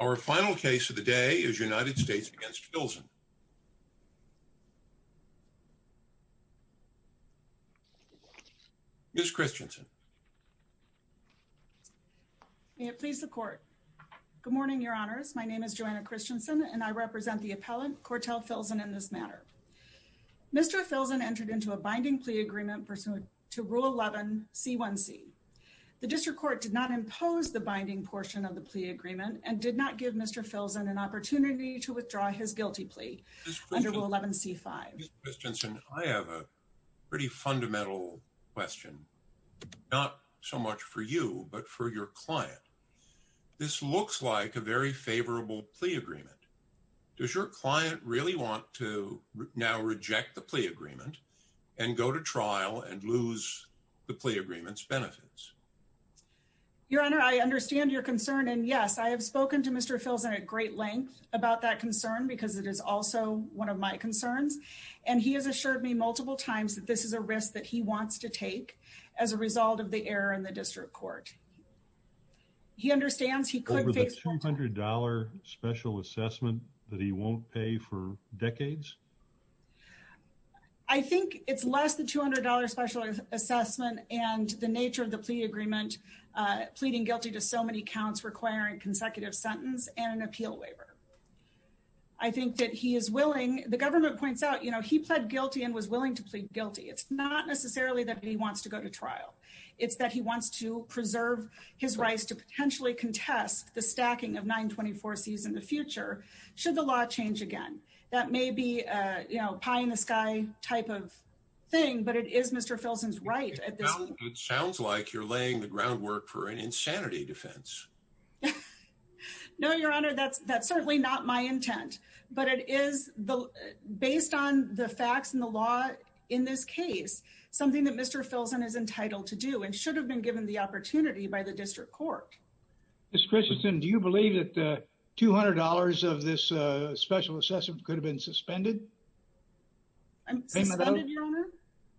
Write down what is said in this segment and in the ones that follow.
Our final case of the day is United States against Filzen. Ms. Christensen. May it please the court. Good morning, your honors. My name is Joanna Christensen and I represent the appellant Korrtel Filzen in this matter. Mr. Filzen entered into a binding plea agreement pursuant to Rule 11 C1C. The district court did not impose the binding portion of the agreement and did not give Mr. Filzen an opportunity to withdraw his guilty plea under Rule 11 C5. Ms. Christensen, I have a pretty fundamental question, not so much for you, but for your client. This looks like a very favorable plea agreement. Does your client really want to now reject the plea agreement and go to trial and lose the plea agreement's benefits? Your honor, I understand your concern. And yes, I have spoken to Mr. Filzen at great length about that concern because it is also one of my concerns. And he has assured me multiple times that this is a risk that he wants to take as a result of the error in the district court. He understands he could face $200 special assessment that he won't pay for decades. I think it's less than $200 special assessment and the nature of the plea agreement, pleading guilty to so many counts requiring consecutive sentence and an appeal waiver. I think that he is willing, the government points out, you know, he pled guilty and was willing to plead guilty. It's not necessarily that he wants to go to trial. It's that he wants to preserve his rights to potentially contest the stacking of 924Cs in the future should the law change again. That may be a pie in the sky type of thing, but it is Mr. Filzen's right. It sounds like you're laying the groundwork for an insanity defense. No, your honor, that's certainly not my intent, but it is based on the facts and the law in this case, something that Mr. Filzen is entitled to do and should have been given the opportunity by the suspended.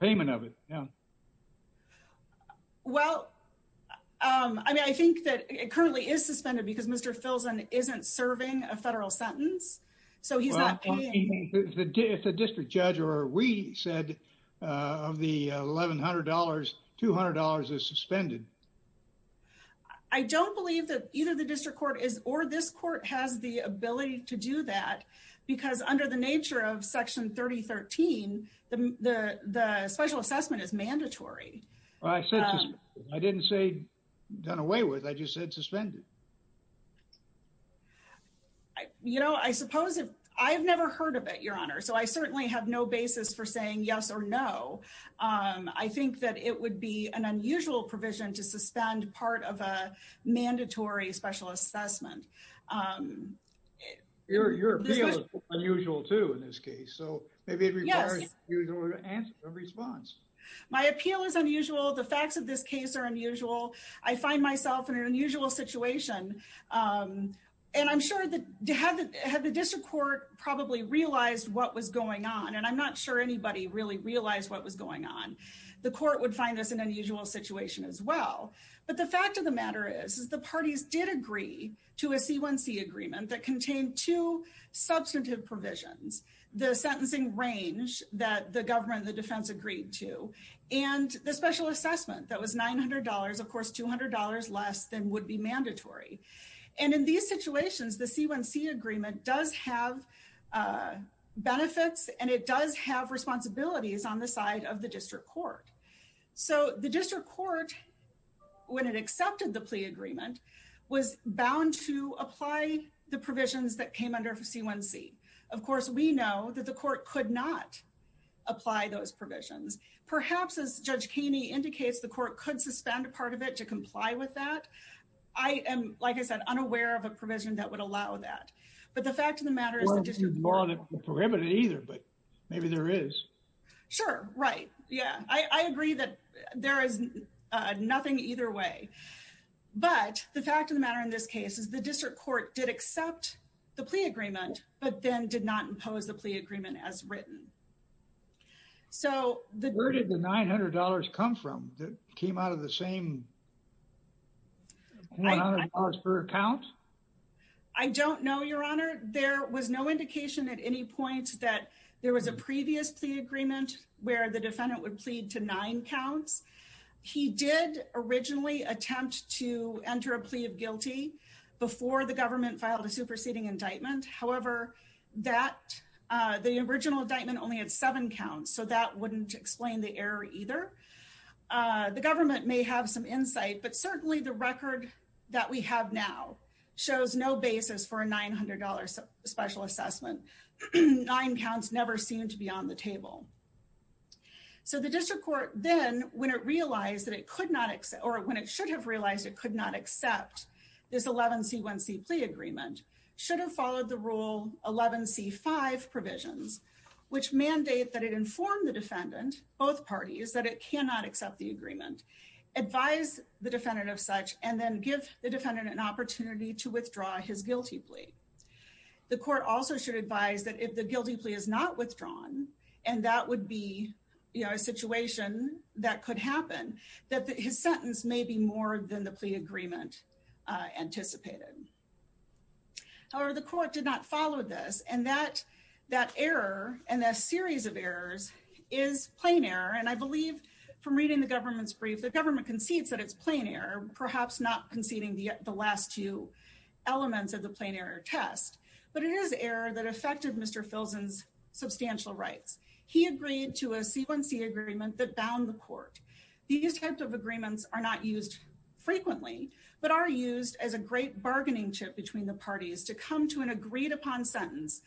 Payment of it. Yeah. Well, I mean, I think that it currently is suspended because Mr. Filzen isn't serving a federal sentence, so he's not paying. It's a district judge or we said of the $1,100, $200 is suspended. I don't believe that either the district court is or this court has the ability to do that because under the nature of Section 3013, the special assessment is mandatory. I said I didn't say done away with. I just said suspended. You know, I suppose I've never heard of it, your honor, so I certainly have no basis for saying yes or no. I think that it would be an unusual provision to suspend part of a mandatory special assessment. Your appeal is unusual too in this case, so maybe it requires an unusual response. My appeal is unusual. The facts of this case are unusual. I find myself in an unusual situation, and I'm sure that had the district court probably realized what was going on, and I'm not sure anybody really realized what was going on, the court would find this an unusual situation as well. But the fact of the matter is the parties did agree to a C1C agreement that contained two substantive provisions, the sentencing range that the government, the defense agreed to, and the special assessment that was $900, of course $200 less than would be mandatory. And in these situations, the C1C agreement does have benefits and it does have responsibilities on the side of the district court. So the district court, when it accepted the plea agreement, was bound to apply the provisions that came under C1C. Of course, we know that the court could not apply those provisions. Perhaps as Judge Keeney indicates, the court could suspend a part of it to comply with that. I am, like I said, unaware of a provision that would allow that. But the Sure, right. Yeah, I agree that there is nothing either way. But the fact of the matter in this case is the district court did accept the plea agreement, but then did not impose the plea agreement as written. So the- Where did the $900 come from that came out of the same $100 per account? I don't know, Your Honor. There was no indication at any point that there was a previous plea agreement where the defendant would plead to nine counts. He did originally attempt to enter a plea of guilty before the government filed a superseding indictment. However, that the original indictment only had seven counts. So that wouldn't explain the error either. The government may have some insight, but certainly the record that we have now shows no basis for a $900 special assessment. Nine counts never seem to be on the table. So the district court then, when it realized that it could not accept or when it should have realized it could not accept this 11C1C plea agreement, should have followed the rule 11C5 provisions, which mandate that it inform the defendant, both parties, that it cannot accept the agreement, advise the defendant of such, and then give the defendant an opportunity to withdraw his guilty plea. The court also should advise that if the guilty plea is not withdrawn, and that would be a situation that could happen, that his sentence may be more than the plea agreement anticipated. However, the court did not follow this. And that error and that series of briefs, the government concedes that it's plain error, perhaps not conceding the last two elements of the plain error test, but it is error that affected Mr. Filson's substantial rights. He agreed to a C1C agreement that bound the court. These types of agreements are not used frequently, but are used as a great bargaining chip between the parties to come to an agreed upon sentence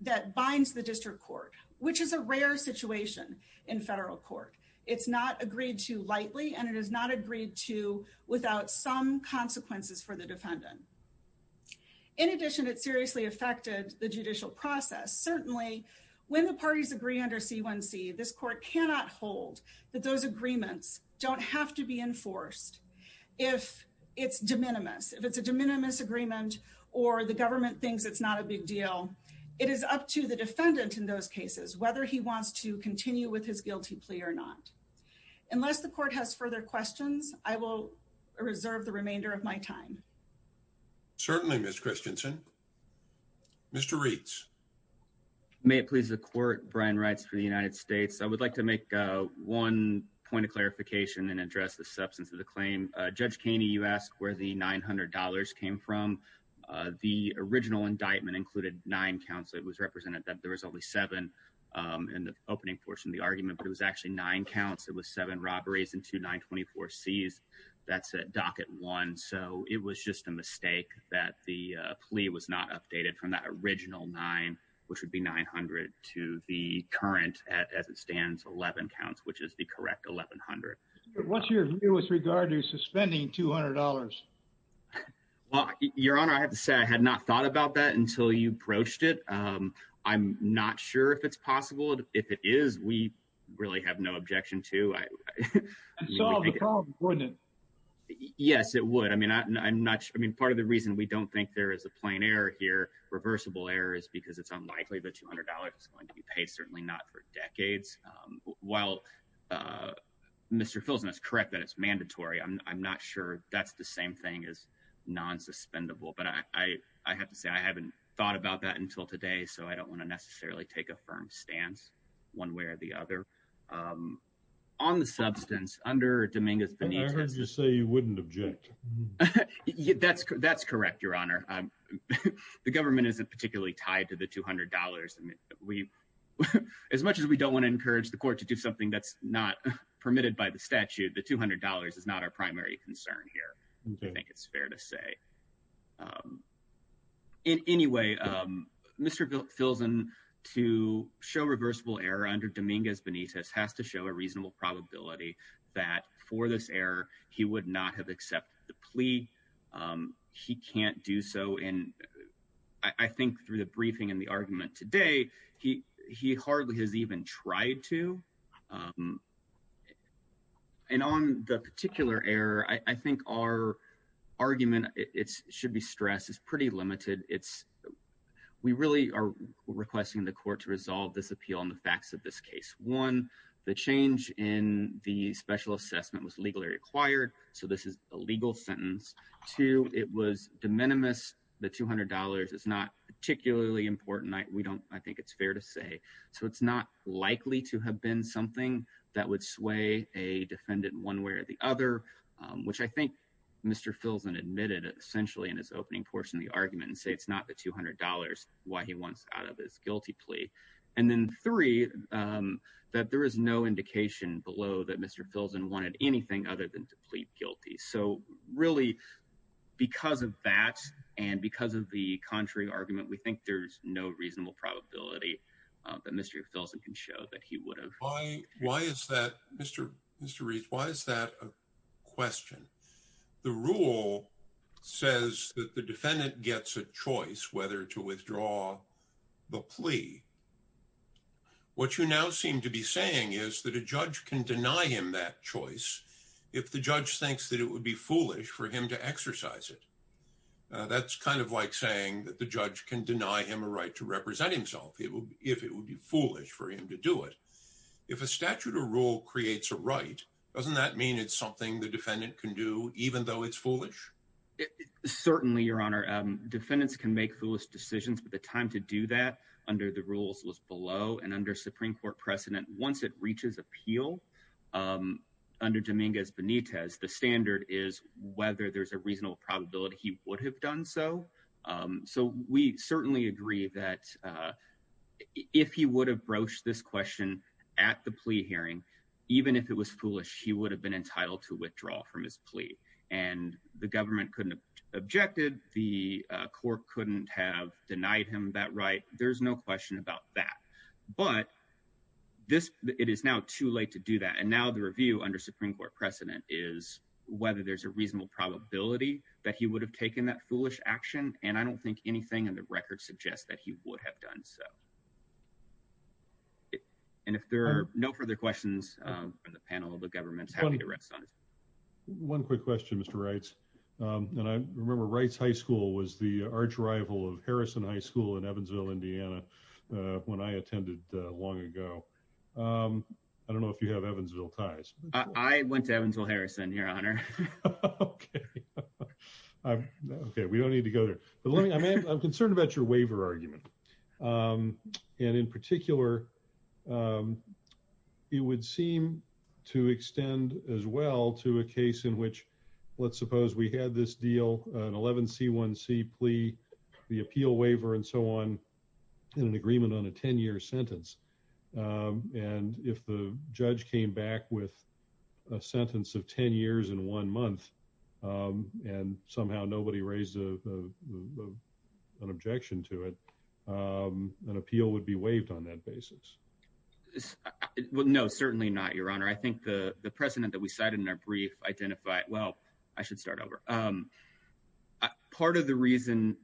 that binds the district court, which is a rare situation in federal court. It's not agreed to lightly, and it is not agreed to without some consequences for the defendant. In addition, it seriously affected the judicial process. Certainly, when the parties agree under C1C, this court cannot hold that those agreements don't have to be enforced. If it's de minimis, if it's a de minimis agreement, or the government thinks it's not a big deal, it is up to the court. Unless the court has further questions, I will reserve the remainder of my time. Certainly, Ms. Christensen. Mr. Reitz. May it please the court, Brian Reitz for the United States. I would like to make one point of clarification and address the substance of the claim. Judge Keeney, you asked where the $900 came from. The original indictment included nine counts. It was represented that there was only seven in the opening portion of the argument, but it was actually nine counts. It was seven robberies and two 924Cs. That's at docket one. So it was just a mistake that the plea was not updated from that original nine, which would be 900, to the current, as it stands, 11 counts, which is the correct 1,100. What's your view with regard to suspending $200? Well, Your Honor, I have to say I had not thought about that until you approached it. I'm not sure if it's possible. If it is, we really have no objection to it. Yes, it would. I mean, part of the reason we don't think there is a plain error here, reversible error, is because it's unlikely that $200 is going to be paid, certainly not for decades. While Mr. Filson is correct that it's mandatory, I'm not sure that's the same thing as so I don't want to necessarily take a firm stance one way or the other. On the substance, under Dominguez-Bonita— I heard you say you wouldn't object. That's correct, Your Honor. The government isn't particularly tied to the $200. As much as we don't want to encourage the court to do something that's not permitted by the statute, the $200 is not our primary concern here. I think it's fair to say. Anyway, Mr. Filson, to show reversible error under Dominguez-Bonita has to show a reasonable probability that for this error, he would not have accepted the plea. He can't do so, and I think through the briefing and the argument today, he hardly has even tried to. And on the particular error, I think our argument—it should be stressed—is pretty limited. We really are requesting the court to resolve this appeal on the facts of this case. One, the change in the special assessment was legally required, so this is a legal sentence. Two, it was de minimis. The $200 is not particularly important. I think it's fair to say. So it's not likely to have been something that would sway a defendant one way or the other, which I think Mr. Filson admitted essentially in his opening portion of the argument and say it's not the $200 why he wants out of this guilty plea. And then three, that there is no indication below that Mr. Filson wanted anything other than to plead guilty. So really, because of that and because of the contrary argument, we think there's no reasonable probability that Mr. Filson can show that he would have. Why is that, Mr. Rees, why is that a question? The rule says that the defendant gets a choice whether to withdraw the plea. What you now seem to be saying is that a judge can deny him that choice if the judge thinks that it would be foolish for him to exercise it. That's kind of like saying that the judge can deny him a right to represent himself if it would be foolish for him to do it. If a statute or rule creates a right, doesn't that mean it's something the defendant can do even though it's foolish? Certainly, Your Honor. Defendants can make foolish decisions, but the time to do that under the rules was below and under Supreme Court precedent. Once it reaches appeal under Dominguez Benitez, the standard is whether there's a reasonable probability he would have done so. So we certainly agree that if he would have broached this question at the plea hearing, even if it was foolish, he would have been entitled to withdraw from his plea. And the government couldn't have objected. The court couldn't have denied him that right. There's no question about that. But it is now too late to do that. And now the review under Supreme Court precedent is whether there's a reasonable probability that he would have taken that foolish action, and I don't think anything in the record suggests that he would have done so. And if there are no further questions from the panel, the government's happy to rest on it. One quick question, Mr. Reitz. And I remember Reitz High School was the arch rival of Harrison High School in Evansville, Indiana when I attended long ago. I don't know if you have Evansville ties. I went to Evansville, Harrison, your honor. Okay, we don't need to go there. But let me I'm concerned about your waiver argument. And in particular, it would seem to extend as well to a case in which, let's suppose we had this deal, an 11 c one c plea, the appeal waiver, and so on, in an agreement on a 10 year sentence. And if the judge came back with a sentence of 10 years in one month, and somehow nobody raised an objection to it, an appeal would be waived on that basis. Well, no, certainly not your honor. I think the precedent that we cited in our brief identify well, I should start over. Part of the reason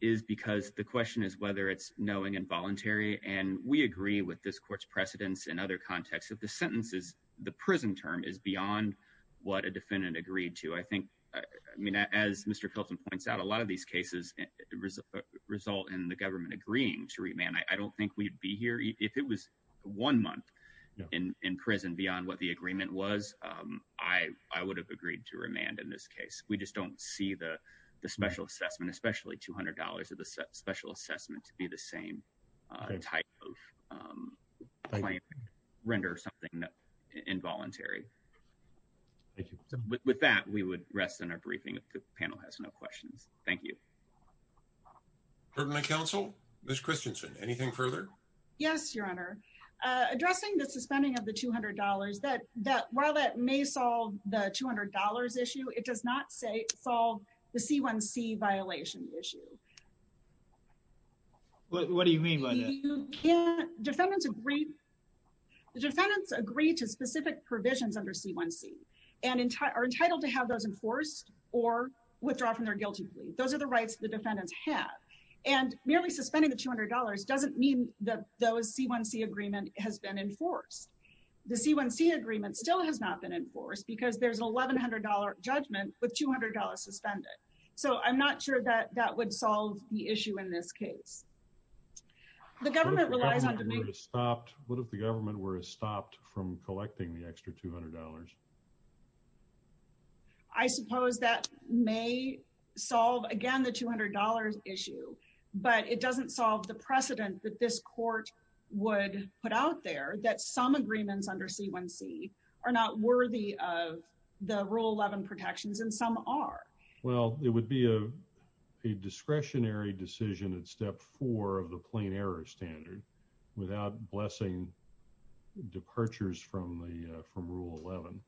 is because the question is whether it's knowing involuntary. And we agree with this court's precedents and other contexts that the sentences, the prison term is beyond what a defendant agreed to, I think. I mean, as Mr. Kelton points out, a lot of these cases result in the government agreeing to remand, I don't think we'd be here if it was one month in prison beyond what the agreement was, I would have agreed to remand in this case, we just don't see the special assessment, especially $200 of the special assessment to be the same type of claim, render something involuntary. Thank you. With that, we would rest in our briefing if the panel has no questions. Thank you. Permanent counsel, Miss Christensen, anything further? Yes, your honor. Addressing the suspending of the $200 that that while that may solve the $200 issue, it does not say solve the C1C violation issue. What do you mean by that? Defendants agree to specific provisions under C1C and are entitled to have those enforced or withdraw from their guilty plea. Those are the rights the defendants have. And merely suspending the $200 doesn't mean that those C1C agreement has been enforced. The C1C agreement still has been enforced because there's an $1,100 judgment with $200 suspended. So I'm not sure that that would solve the issue in this case. The government relies on to be stopped. What if the government were stopped from collecting the extra $200? I suppose that may solve again, the $200 issue, but it doesn't solve the precedent that this court would put out there that some agreements under C1C are not worthy of the rule 11 protections and some are. Well, it would be a discretionary decision at step four of the plain error standard without blessing departures from the from rule 11.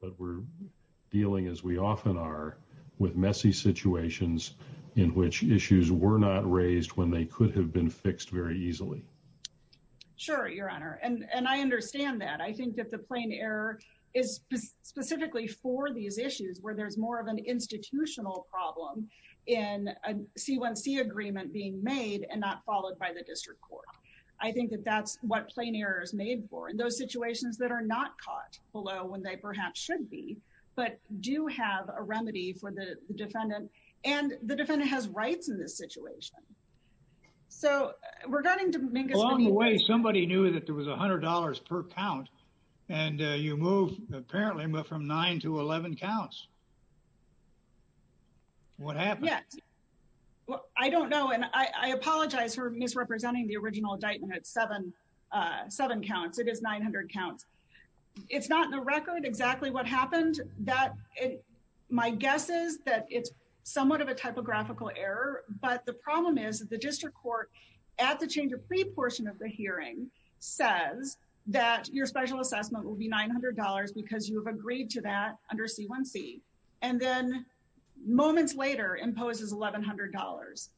But we're dealing as we often are with messy situations in which issues were not raised when they could have been fixed very easily. Sure, Your Honor. And I understand that. I think that the plain error is specifically for these issues where there's more of an institutional problem in a C1C agreement being made and not followed by the district court. I think that that's what plain error is made for in those situations. Well, I think that's a fair point. I think that's a fair point. I think that the defendant has rights in this situation. So we're going to make a long way. Somebody knew that there was $100 per count and you move apparently from 9 to 11 counts. What happened? Well, I don't know. And I apologize for misrepresenting the original indictment at seven counts. It is 900 counts. It's not in the record exactly what happened. My guess is that it's somewhat of a typographical error. But the problem is the district court at the change of pre-portion of the hearing says that your special assessment will be $900 because you have agreed to that under C1C. And then moments later imposes $1,100.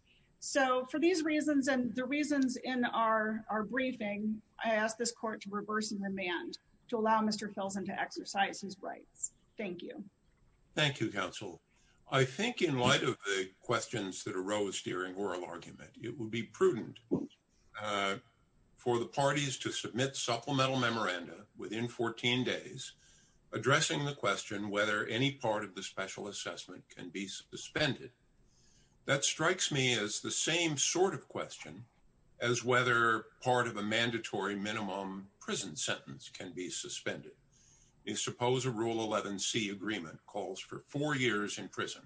So for these reasons and the reasons in our briefing, I ask this court to reverse and remand to allow Mr. Filson to exercise his rights. Thank you. Thank you, counsel. I think in light of the questions that arose during oral argument, it would be prudent for the parties to submit supplemental memoranda within 14 days addressing the question whether any part of the special assessment can be suspended. That strikes me as the same sort of question as whether part of a mandatory minimum prison sentence can be suspended. You suppose a rule 11C agreement calls for four years in prison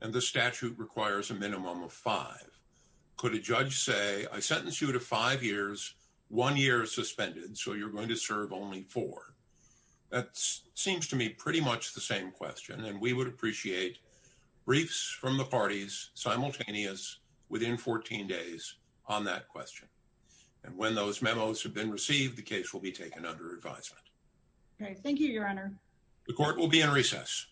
and the statute requires a minimum of five. Could a judge say, I sentence you to five years, one year suspended, so you're going to serve only four? That seems to me pretty much the same question. And we would appreciate briefs from the parties simultaneous within 14 days on that question. And when those memos have been received, the case will be taken under advisement. Okay. Thank you, your honor. The court will be in recess.